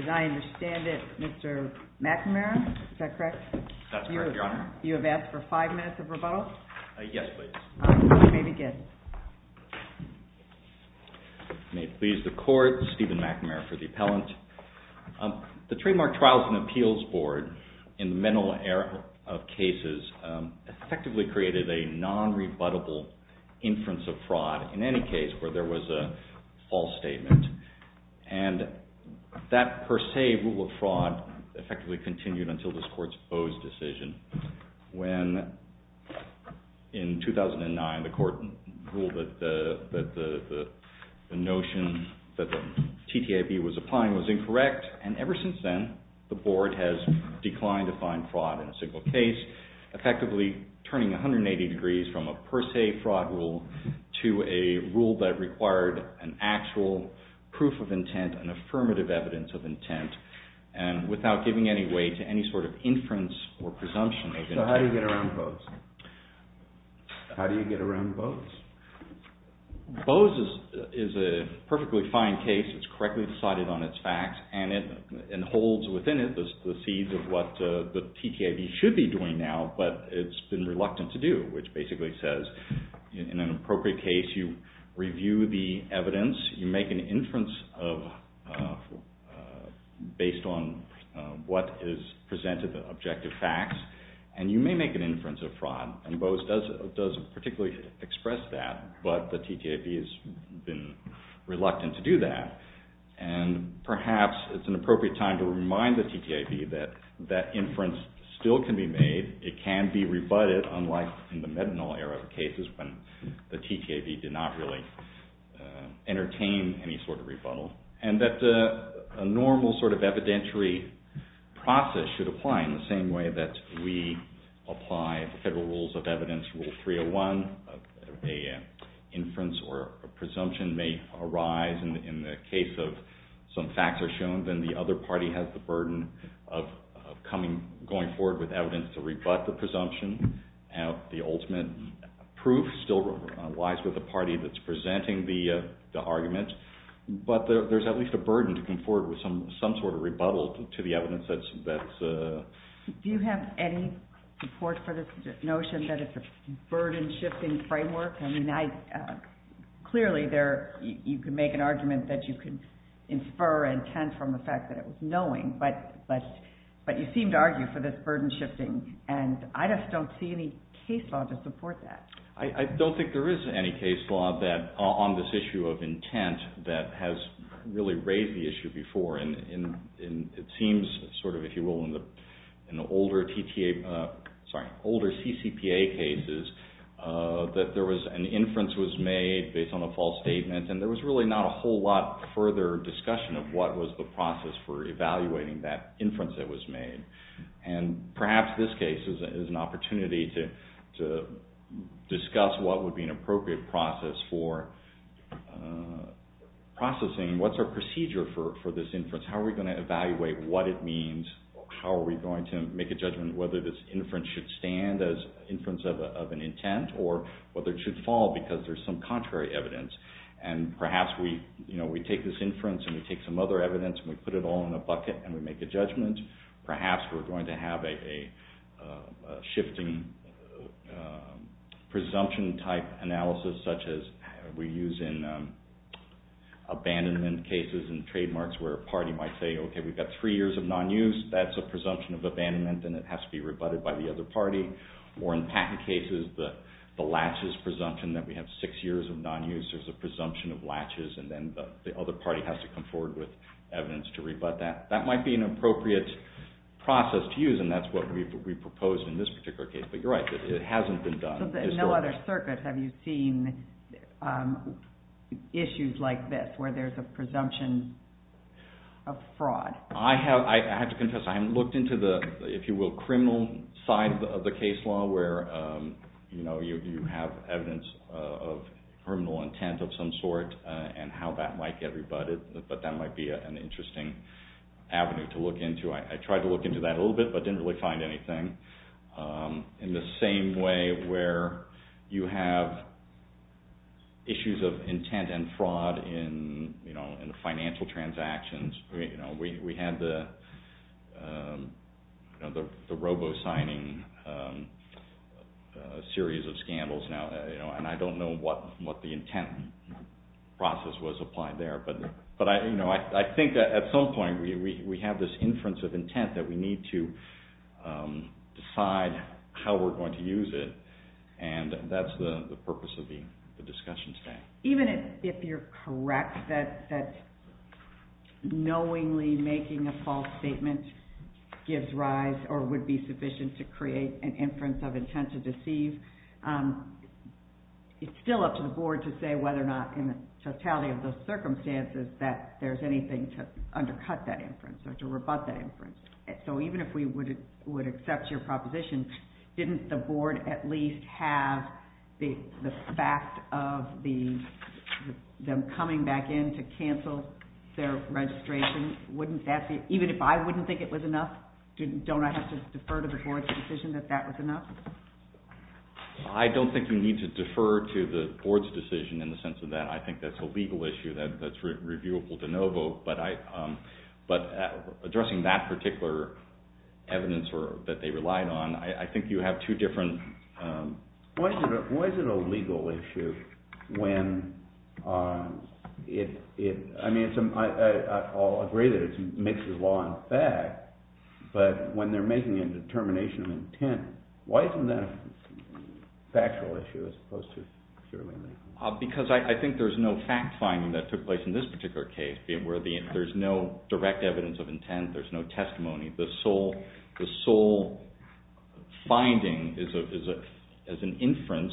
As I understand it, Mr. McNamara, is that correct, is that correct, Mr. McNamara, yes? Yes. That's correct, Your Honor. You have asked for five minutes of rebuttal? Yes, please. All right, you may begin. May it please the Court, Stephen McNamara for the appellant. The Trademark Trials and Appeals Board, in the mental error of cases, effectively created a non-rebuttable inference of fraud, in any case, where there was a false statement. And that per se rule of fraud effectively continued until this Court's Bowes decision, when in 2009 the Court ruled that the notion that the TTIP was applying was incorrect. And ever since then, the Board has declined to find fraud in a single case, effectively turning 180 degrees from a per se fraud rule to a rule that required an actual proof of intent, an affirmative evidence of intent, and without giving any weight to any sort of inference or presumption. So how do you get around Bowes? How do you get around Bowes? Bowes is a perfectly fine case. It's correctly decided on its facts, and it holds within it the seeds of what the TTIP should be doing now, but it's been reluctant to do, which basically says, in an appropriate case, you review the evidence, you make an inference based on what is presented, the objective facts, and you may make an inference of fraud. And Bowes does particularly express that, but the TTIP has been reluctant to do that. And perhaps it's an appropriate time to remind the TTIP that that inference still can be made. It can be rebutted, unlike in the methanol era of cases when the TTIP did not really entertain any sort of rebuttal, and that a normal sort of evidentiary process should apply in the same way that we apply federal rules of evidence, Rule 301. If an inference or a presumption may arise in the case of some facts are shown, then the other party has the burden of going forward with evidence to rebut the presumption. The ultimate proof still lies with the party that's presenting the argument, but there's at least a burden to come forward with some sort of rebuttal to the evidence that's… Do you have any support for this notion that it's a burden-shifting framework? I mean, clearly, you can make an argument that you can infer intent from the fact that it was knowing, but you seem to argue for this burden-shifting, and I just don't see any case law to support that. I don't think there is any case law on this issue of intent that has really raised the issue before, and it seems sort of, if you will, in the older CCPA cases that there was an inference was made based on a false statement, and there was really not a whole lot further discussion of what was the process for evaluating that inference that was made, and perhaps this case is an opportunity to discuss what would be an appropriate process for processing. What's our procedure for this inference? How are we going to evaluate what it means? How are we going to make a judgment whether this inference should stand as inference of an intent, or whether it should fall because there's some contrary evidence, and perhaps we take this inference and we take some other evidence and we put it all in a bucket and we make a judgment. Perhaps we're going to have a shifting presumption-type analysis such as we use in abandonment cases and trademarks where a party might say, okay, we've got three years of non-use. That's a presumption of abandonment, and it has to be rebutted by the other party, or in patent cases, the latches presumption that we have six years of non-use is a presumption of latches, and then the other party has to come forward with evidence to rebut that. That might be an appropriate process to use, and that's what we've proposed in this particular case, but you're right. It hasn't been done. No other circuit have you seen issues like this where there's a presumption of fraud? I have to confess I haven't looked into the, if you will, criminal side of the case law where you have evidence of criminal intent of some sort and how that might get rebutted, but that might be an interesting avenue to look into. I tried to look into that a little bit, but didn't really find anything. In the same way where you have issues of intent and fraud in the financial transactions, we had the robo-signing series of scandals now, and I don't know what the intent process was applied there. I think at some point we have this inference of intent that we need to decide how we're going to use it, and that's the purpose of the discussion today. Even if you're correct that knowingly making a false statement gives rise or would be sufficient to create an inference of intent to deceive, it's still up to the board to say whether or not in the totality of those circumstances that there's anything to undercut that inference or to rebut that inference. Even if we would accept your proposition, didn't the board at least have the fact of them coming back in to cancel their registration? Even if I wouldn't think it was enough, don't I have to defer to the board's decision that that was enough? I don't think you need to defer to the board's decision in the sense of that. I think that's a legal issue that's reviewable de novo, but addressing that particular evidence that they relied on, I think you have two different... Why is it a legal issue when... I mean, I'll agree that it mixes law and fact, but when they're making a determination of intent, why isn't that a factual issue as opposed to purely legal? Because I think there's no fact-finding that took place in this particular case where there's no direct evidence of intent, there's no testimony. The sole finding is an inference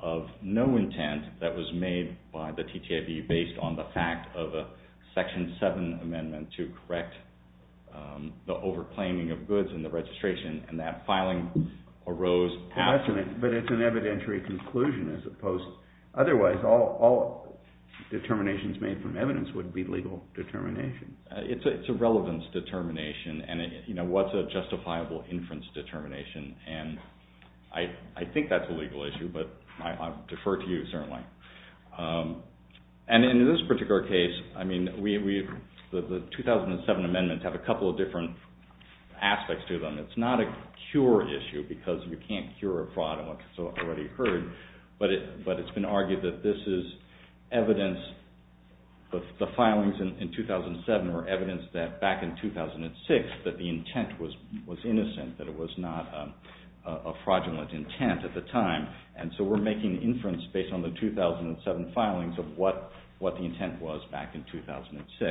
of no intent that was made by the TTIP based on the fact of a Section 7 amendment to correct the over-claiming of goods in the registration and that filing arose... But it's an evidentiary conclusion as opposed... Otherwise, all determinations made from evidence would be legal determination. It's a relevance determination, and what's a justifiable inference determination, and I think that's a legal issue, but I defer to you, certainly. And in this particular case, I mean, the 2007 amendments have a couple of different aspects to them. It's not a cure issue because you can't cure a fraud in what's already occurred, but it's been argued that this is evidence... The filings in 2007 were evidence that back in 2006 that the intent was innocent, that it was not a fraudulent intent at the time. And so we're making inference based on the 2007 filings of what the intent was back in 2006.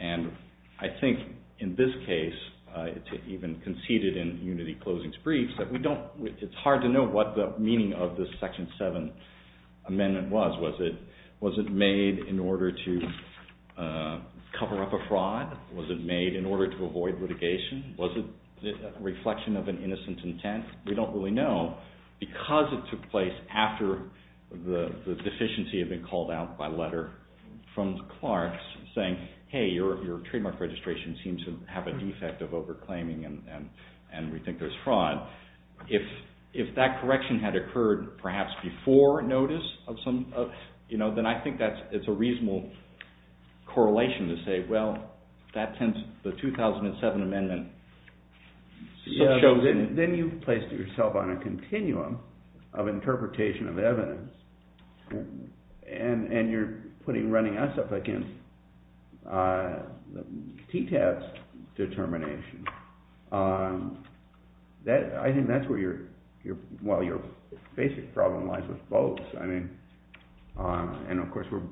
And I think in this case, even conceded in Unity Closing's briefs, that we don't... It's hard to know what the meaning of this Section 7 amendment was. Was it made in order to cover up a fraud? Was it made in order to avoid litigation? Was it a reflection of an innocent intent? We don't really know because it took place after the deficiency had been called out by letter from the Clarks saying, hey, your trademark registration seems to have a defect of over-claiming, and we think there's fraud. If that correction had occurred perhaps before notice of some... Then I think it's a reasonable correlation to say, well, the 2007 amendment shows... Then you've placed yourself on a continuum of interpretation of evidence, and you're putting... running us up against TTAP's determination. I think that's where your... Well, your basic problem lies with Bose. I mean... And of course we're...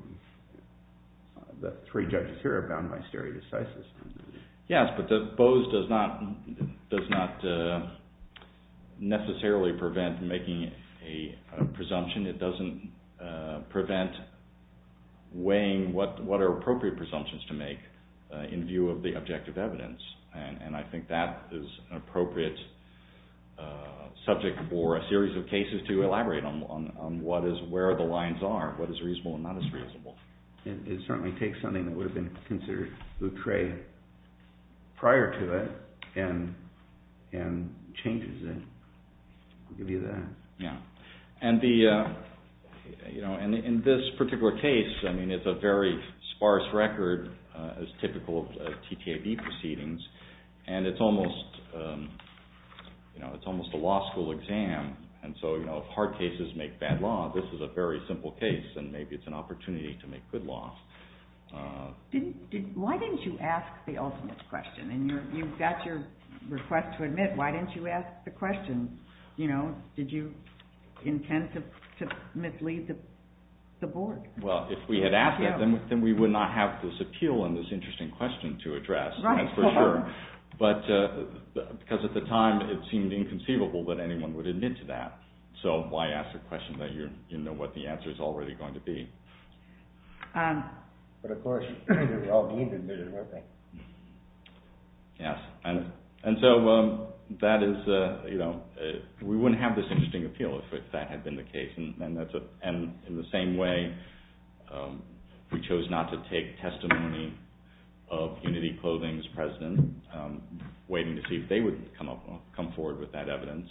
The three judges here are bound by stare decisis. Yes, but Bose does not necessarily prevent making a presumption. It doesn't prevent weighing what are appropriate presumptions to make in view of the objective evidence. And I think that is an appropriate subject for a series of cases to elaborate on what is where the lines are, what is reasonable and not as reasonable. It certainly takes something that would have been considered a trait prior to it and changes it. I'll give you that. Yeah. And the... In this particular case, I mean, it's a very sparse record as typical of TTAP proceedings, and it's almost a law school exam. And so, you know, if hard cases make bad law, this is a very simple case, and maybe it's an opportunity to make good law. Why didn't you ask the ultimate question? And you've got your request to admit. Why didn't you ask the question? You know, did you intend to mislead the board? Well, if we had asked it, then we would not have this appeal and this interesting question to address, that's for sure. But because at the time, it seemed inconceivable that anyone would admit to that. So why ask a question that you know what the answer is already going to be? But of course, they were all being admitted, weren't they? Yes. And so that is, you know, we wouldn't have this interesting appeal if that had been the case. And in the same way, we chose not to take testimony of Unity Clothing's president, waiting to see if they would come forward with that evidence.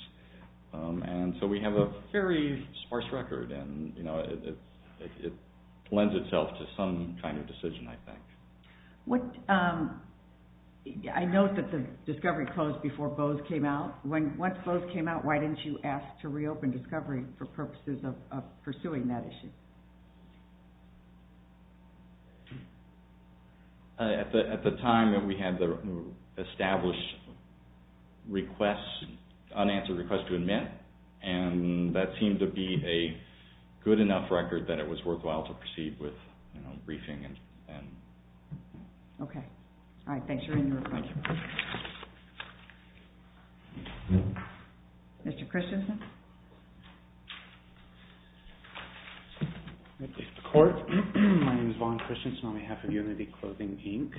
And so we have a very sparse record, and it lends itself to some kind of decision, I think. I note that the discovery closed before Bose came out. Once Bose came out, why didn't you ask to reopen discovery for purposes of pursuing that issue? At the time, we had the established request, unanswered request to admit, and that seemed to be a good enough record that it was worthwhile to proceed with briefing. Okay. All right, thanks. Mr. Christensen? Thank you, Mr. Court. My name is Vaughn Christensen on behalf of Unity Clothing,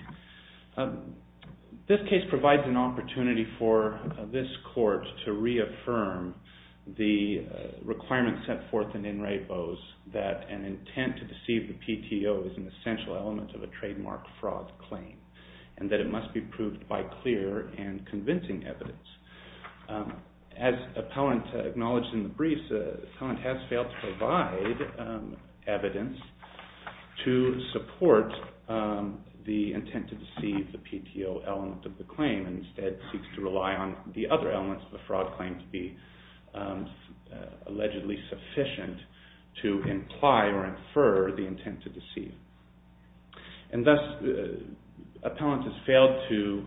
Inc. This case provides an opportunity for this court to reaffirm the requirements set forth in In Re, Bose that an intent to deceive the PTO is an essential element of a trademark fraud claim, and that it must be proved by clear and convincing evidence. As Appellant acknowledged in the briefs, Appellant has failed to provide evidence to support the intent to deceive the PTO element of the claim, and instead seeks to rely on the other elements of a fraud claim to be allegedly sufficient to imply or infer the intent to deceive. And thus, Appellant has failed to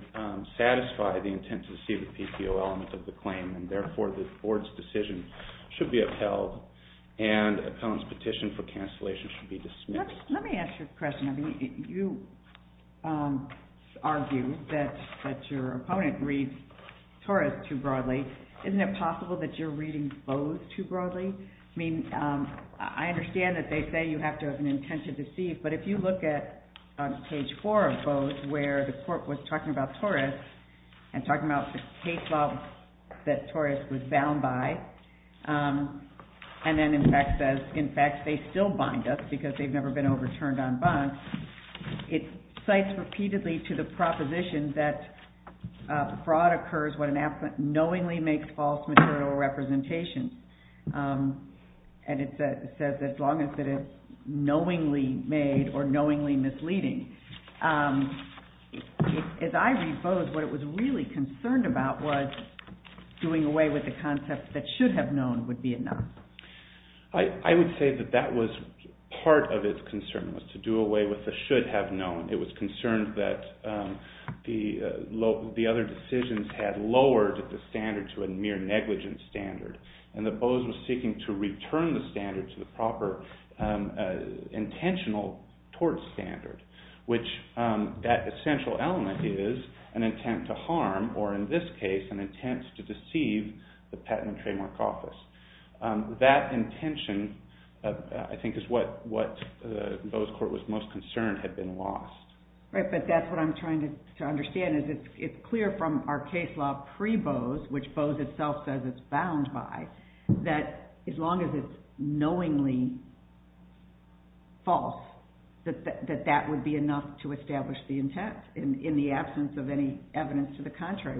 satisfy the intent to deceive the PTO element of the claim, and therefore, the board's decision should be upheld, and Appellant's petition for cancellation should be dismissed. Let me ask you a question. I mean, you argue that your opponent reads Taurus too broadly. Isn't it possible that you're reading Bose too broadly? I mean, I understand that they say you have to have an intent to deceive, but if you look at page 4 of Bose, where the court was talking about Taurus and talking about the case law that Taurus was bound by, and then in fact says, in fact, they still bind us because they've never been overturned on bonds, it cites repeatedly to the proposition that fraud occurs when an appellant knowingly makes false material representations. And it says that as long as it is knowingly made or knowingly misleading. As I read Bose, what it was really concerned about was doing away with the concept that should have known would be enough. I would say that that was part of its concern was to do away with the should have known. It was concerned that the other decisions had lowered the standard to a mere negligence standard, and that Bose was seeking to return the standard to the proper intentional tort standard, which that essential element is an intent to harm, or in this case, an intent to deceive the patent and trademark office. That intention, I think, is what Bose Court was most concerned had been lost. Right, but that's what I'm trying to understand. It's clear from our case law pre-Bose, which Bose itself says it's bound by, that as long as it's knowingly false, that that would be enough to establish the intent in the absence of any evidence to the contrary.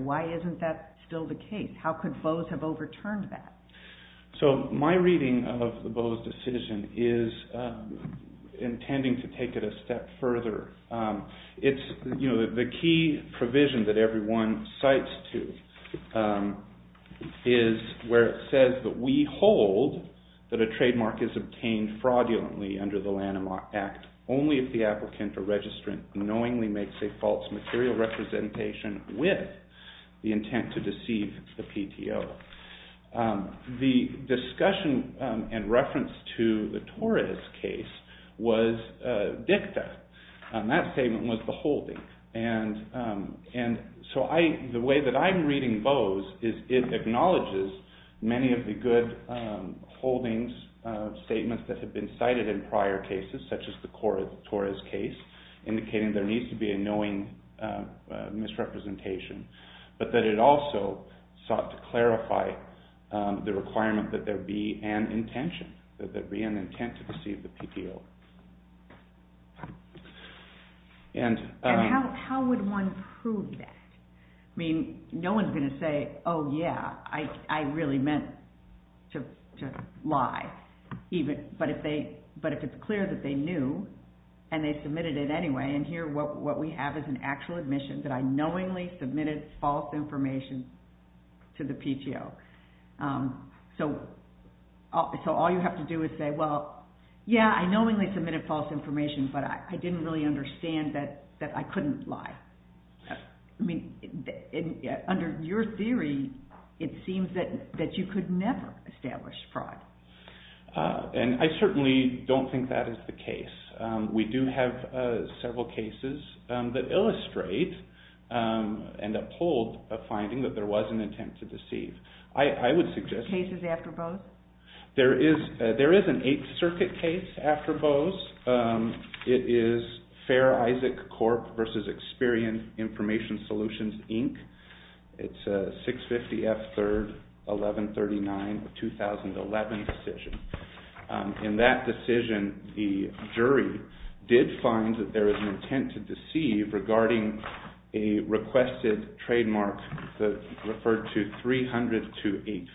The key provision that everyone cites to is where it says that we hold that a trademark is obtained fraudulently under the Lanham Act only if the applicant or registrant knowingly makes a false material representation with the intent to deceive the PTO. The discussion and reference to the Torres case was dicta. That statement was the holding, and so the way that I'm reading Bose is it acknowledges many of the good holdings statements that have been cited in prior cases, such as the Torres case, indicating there needs to be a knowing misrepresentation, but that it also sought to clarify the requirement that there be an intention, that there be an intent to deceive the PTO. And how would one prove that? I mean, no one's going to say, oh yeah, I really meant to lie, but if it's clear that they knew and they submitted it anyway, and here what we have is an actual admission that I knowingly submitted false information to the PTO. So all you have to do is say, well, yeah, I knowingly submitted false information, but I didn't really understand that I couldn't lie. I mean, under your theory, it seems that you could never establish fraud. And I certainly don't think that is the case. We do have several cases that illustrate and uphold a finding that there was an intent to deceive. I would suggest... 650F3-1139, a 2011 decision. In that decision, the jury did find that there was an intent to deceive regarding a requested trademark referred to 3002850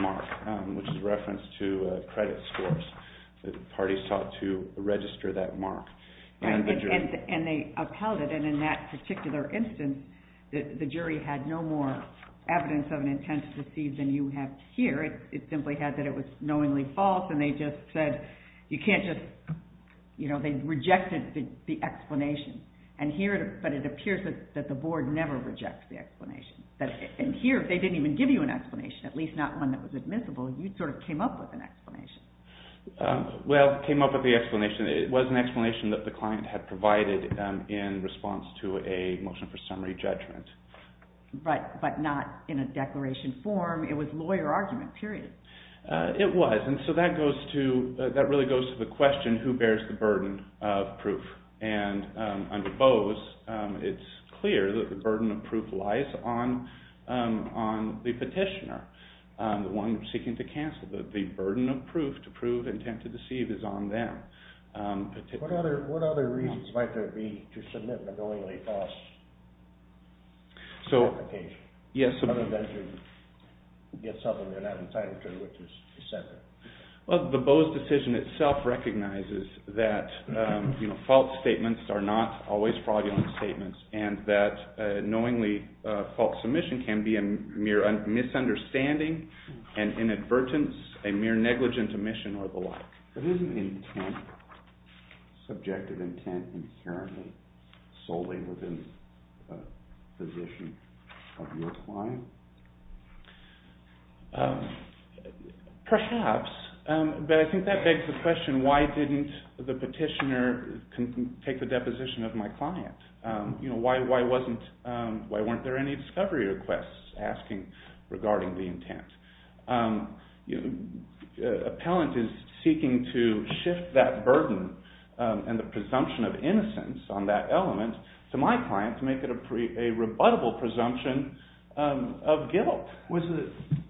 mark, which is a reference to credit scores. The parties sought to register that mark. And they upheld it, and in that particular instance, the jury had no more evidence of an intent to deceive than you have here. It simply had that it was knowingly false, and they just said, you can't just, you know, they rejected the explanation. And here, but it appears that the board never rejects the explanation. And here, they didn't even give you an explanation, at least not one that was admissible. You sort of came up with an explanation. Well, came up with the explanation. It was an explanation that the client had provided in response to a motion for summary judgment. But not in a declaration form. It was lawyer argument, period. It was, and so that really goes to the question, who bears the burden of proof? And under Bose, it's clear that the burden of proof lies on the petitioner, the one seeking to cancel. The burden of proof to prove intent to deceive is on them. What other reasons might there be to submit an unknowingly false application? Well, the Bose decision itself recognizes that, you know, false statements are not always fraudulent statements, and that knowingly false submission can be a mere misunderstanding, an inadvertence, a mere negligent omission or the like. But isn't intent, subjective intent inherently solely within the position of your client? Perhaps, but I think that begs the question, why didn't the petitioner take the deposition of my client? You know, why wasn't, why weren't there any discovery requests asking regarding the intent? Appellant is seeking to shift that burden and the presumption of innocence on that element to my client to make it a rebuttable presumption of guilt.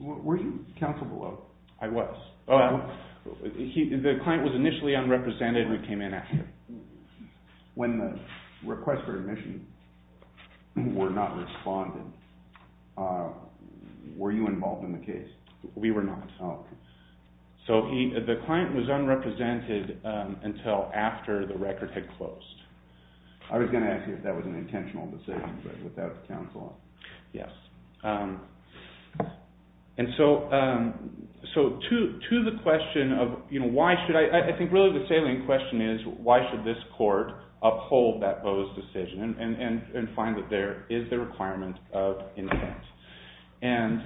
Were you counsel below? I was. The client was initially unrepresented and we came in after. When the requests for admission were not responded, were you involved in the case? We were not. So the client was unrepresented until after the record had closed. I was going to ask you if that was an intentional decision, but without counsel. Yes. And so to the question of, you know, why should I, I think really the salient question is why should this court uphold that Boe's decision and find that there is the requirement of intent. And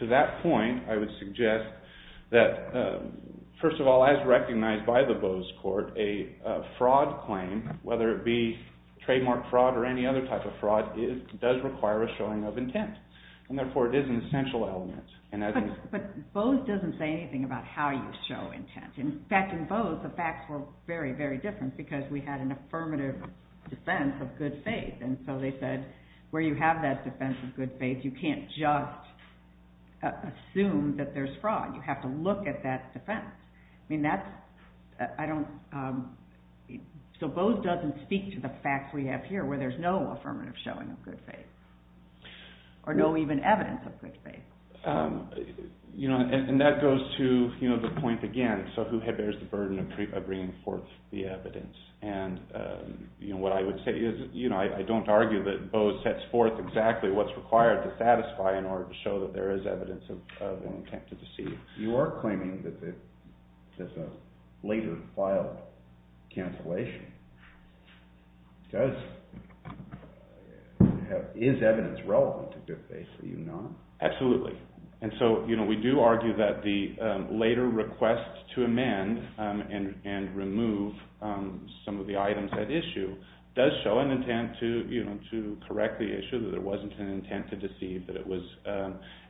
to that point, I would suggest that, first of all, as recognized by the Boe's court, a fraud claim, whether it be trademark fraud or any other type of fraud, does require a showing of intent. And therefore, it is an essential element. But Boe's doesn't say anything about how you show intent. In fact, in Boe's, the facts were very, very different because we had an affirmative defense of good faith. And so they said where you have that defense of good faith, you can't just assume that there's fraud. You have to look at that defense. I mean, that's, I don't, so Boe's doesn't speak to the facts we have here where there's no affirmative showing of good faith or no even evidence of good faith. You know, and that goes to, you know, the point again, so who bears the burden of bringing forth the evidence? And, you know, what I would say is, you know, I don't argue that Boe's sets forth exactly what's required to satisfy in order to show that there is evidence of an intent to deceive. You are claiming that there's a later filed cancellation. Does, is evidence relevant to good faith? Are you not? Absolutely. And so, you know, we do argue that the later request to amend and remove some of the items at issue does show an intent to, you know, to correct the issue, that there wasn't an intent to deceive, that it was,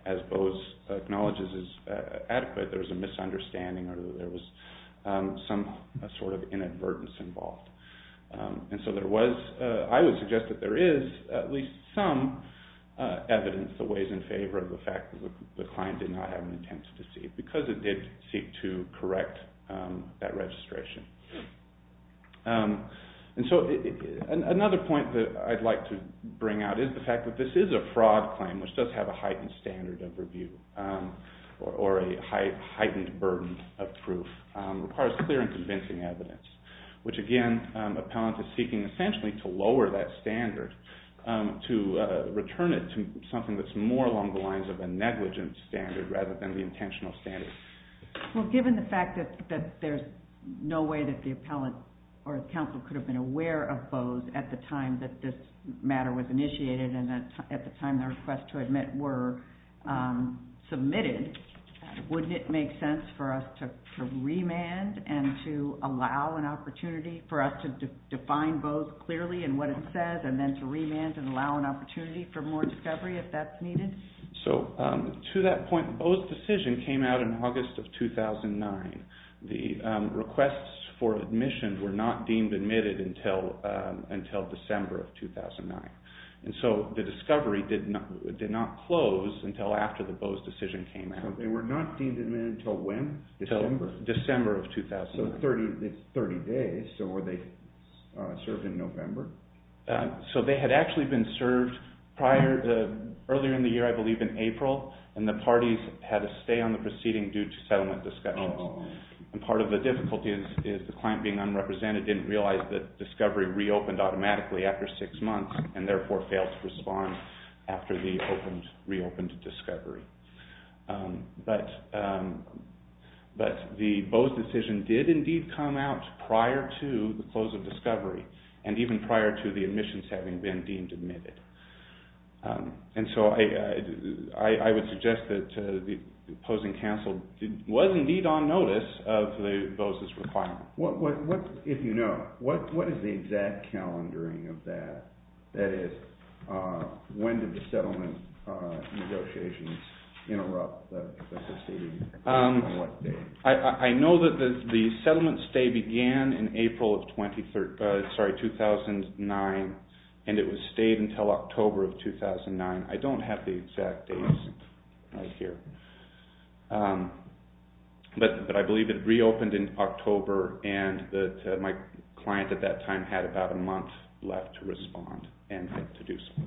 as Boe's acknowledges as adequate, there was a misunderstanding or there was some sort of inadvertence involved. And so there was, I would suggest that there is at least some evidence that weighs in favor of the fact that the client did not have an intent to deceive because it did seek to correct that registration. And so another point that I'd like to bring out is the fact that this is a fraud claim, which does have a heightened standard of review or a heightened burden of proof, requires clear and convincing evidence, which again, appellant is seeking essentially to lower that standard, to return it to something that's more along the lines of a negligent standard rather than the intentional standard. Well, given the fact that there's no way that the appellant or the counsel could have been aware of Boe's at the time that this matter was initiated and at the time the request to admit were submitted, wouldn't it make sense for us to remand and to allow an opportunity for us to define Boe's clearly in what it says and then to remand and allow an opportunity for more discovery if that's needed? So to that point, Boe's decision came out in August of 2009. The requests for admission were not deemed admitted until December of 2009. And so the discovery did not close until after the Boe's decision came out. So they were not deemed admitted until when? Until December of 2009. So 30 days, so were they served in November? So they had actually been served earlier in the year, I believe in April, and the parties had to stay on the proceeding due to settlement discussions. And part of the difficulty is the client being unrepresented didn't realize that discovery reopened automatically after six months and therefore failed to respond after the reopened discovery. But the Boe's decision did indeed come out prior to the close of discovery and even prior to the admissions having been deemed admitted. And so I would suggest that the opposing counsel was indeed on notice of Boe's requirement. If you know, what is the exact calendaring of that? That is, when did the settlement negotiations interrupt the proceeding? I know that the settlement stay began in April of 2009 and it was stayed until October of 2009. I don't have the exact dates right here. But I believe it reopened in October and my client at that time had about a month left to respond and to do so.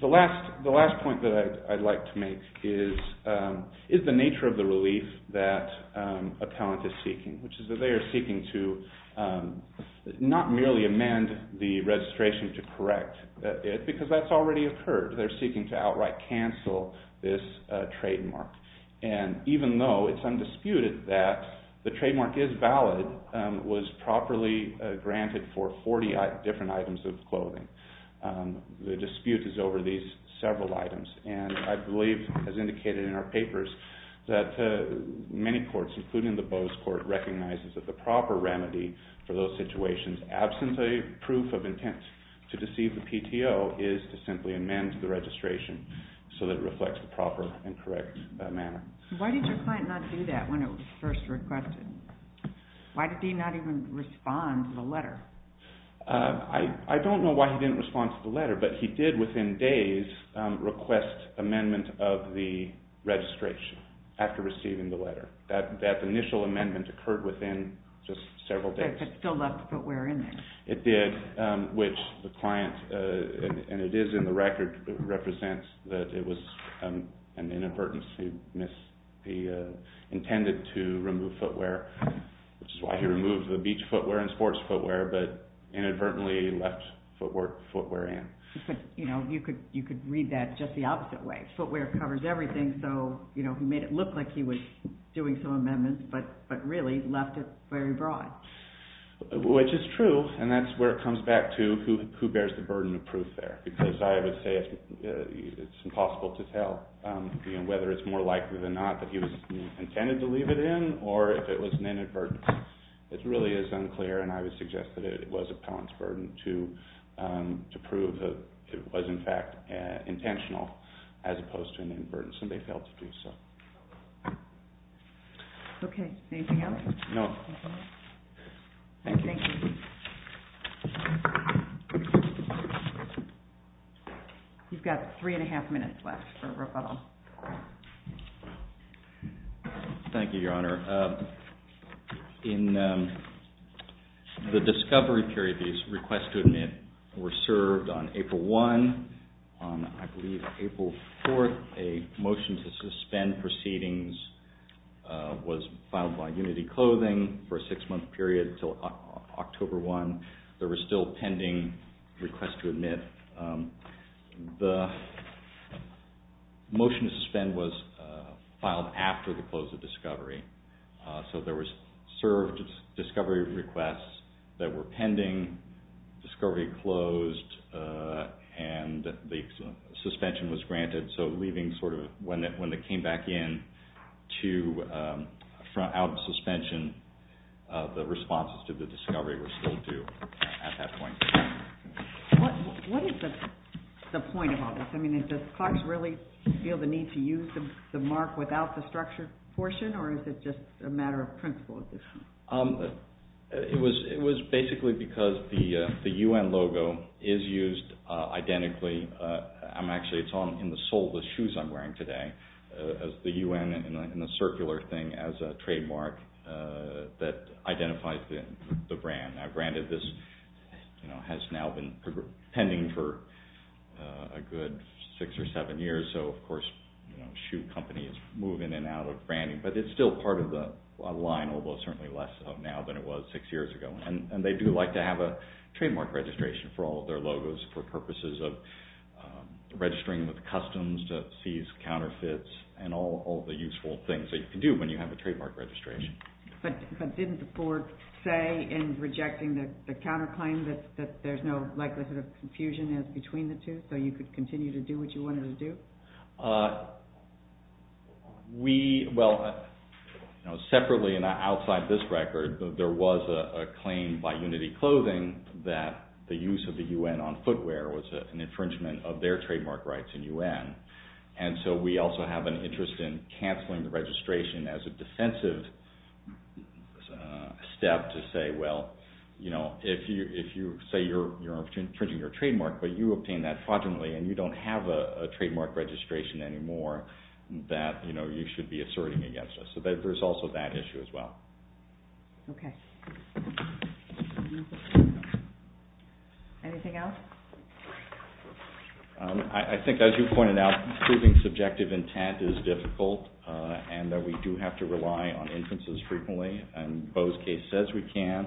The last point that I'd like to make is the nature of the relief that appellant is seeking, which is that they are seeking to not merely amend the registration to correct it because that's already occurred. They're seeking to outright cancel this trademark. And even though it's undisputed that the trademark is valid, it was properly granted for 40 different items of clothing. The dispute is over these several items and I believe, as indicated in our papers, that many courts, including the Boe's Court, recognizes that the proper remedy for those situations, absent a proof of intent to deceive the PTO, is to simply amend the registration so that it reflects the proper and correct manner. Why did your client not do that when it was first requested? Why did he not even respond to the letter? I don't know why he didn't respond to the letter, but he did within days request amendment of the registration after receiving the letter. That initial amendment occurred within just several days. It still left footwear in there. It did, which the client, and it is in the record, represents that it was an inadvertence. He intended to remove footwear, which is why he removed the beach footwear and sports footwear, but inadvertently left footwear in. You could read that just the opposite way. Footwear covers everything, so he made it look like he was doing some amendments, but really left it very broad. Which is true, and that's where it comes back to who bears the burden of proof there, because I would say it's impossible to tell whether it's more likely than not that he intended to leave it in, or if it was an inadvertence. It really is unclear, and I would suggest that it was appellant's burden to prove that it was, in fact, intentional, as opposed to an inadvertence, and they failed to do so. Okay. Anything else? No. Thank you. You've got three and a half minutes left for rebuttal. Thank you, Your Honor. In the discovery period, these requests to admit were served on April 1. On, I believe, April 4, a motion to suspend proceedings was filed by Unity Clothing for a six-month period until October 1. The motion to suspend was filed after the close of discovery, so there were served discovery requests that were pending, discovery closed, and the suspension was granted. So, when they came back in out of suspension, the responses to the discovery were still due at that point. What is the point of all this? I mean, does Clarks really feel the need to use the mark without the structured portion, or is it just a matter of principle? It was basically because the UN logo is used identically. Actually, it's in the sole of the shoes I'm wearing today, as the UN and the circular thing as a trademark that identifies the brand. Now, granted, this has now been pending for a good six or seven years, so, of course, shoe companies move in and out of branding. But it's still part of the line, although certainly less of now than it was six years ago. And they do like to have a trademark registration for all of their logos for purposes of registering with customs to seize counterfeits and all the useful things that you can do when you have a trademark registration. But didn't the board say in rejecting the counterclaim that there's no likelihood of confusion between the two, so you could continue to do what you wanted to do? Well, separately and outside this record, there was a claim by Unity Clothing that the use of the UN on footwear was an infringement of their trademark rights in UN. And so we also have an interest in canceling the registration as a defensive step to say, well, if you say you're infringing your trademark, but you obtained that fraudulently, and you don't have a trademark registration anymore, that you should be asserting against us. So there's also that issue as well. Okay. Anything else? I think as you pointed out, proving subjective intent is difficult and that we do have to rely on inferences frequently. And Bo's case says we can.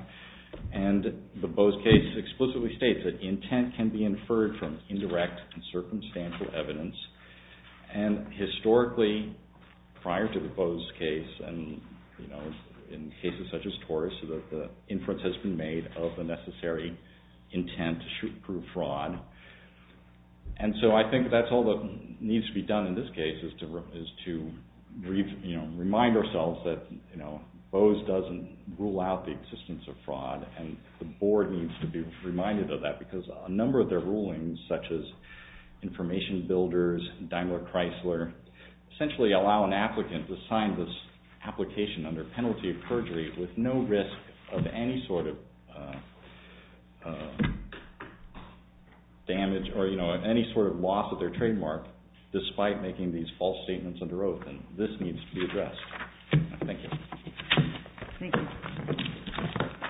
And the Bo's case explicitly states that intent can be inferred from indirect and circumstantial evidence. And historically, prior to the Bo's case and in cases such as Taurus, the inference has been made of the necessary intent to prove fraud. And so I think that's all that needs to be done in this case is to remind ourselves that Bo's doesn't rule out the existence of fraud. And the board needs to be reminded of that because a number of their rulings, such as Information Builders, Daimler Chrysler, essentially allow an applicant to sign this application under penalty of perjury with no risk of any sort of damage or any sort of loss of their trademark, despite making these false statements under oath. And this needs to be addressed. Thank you. Thank you.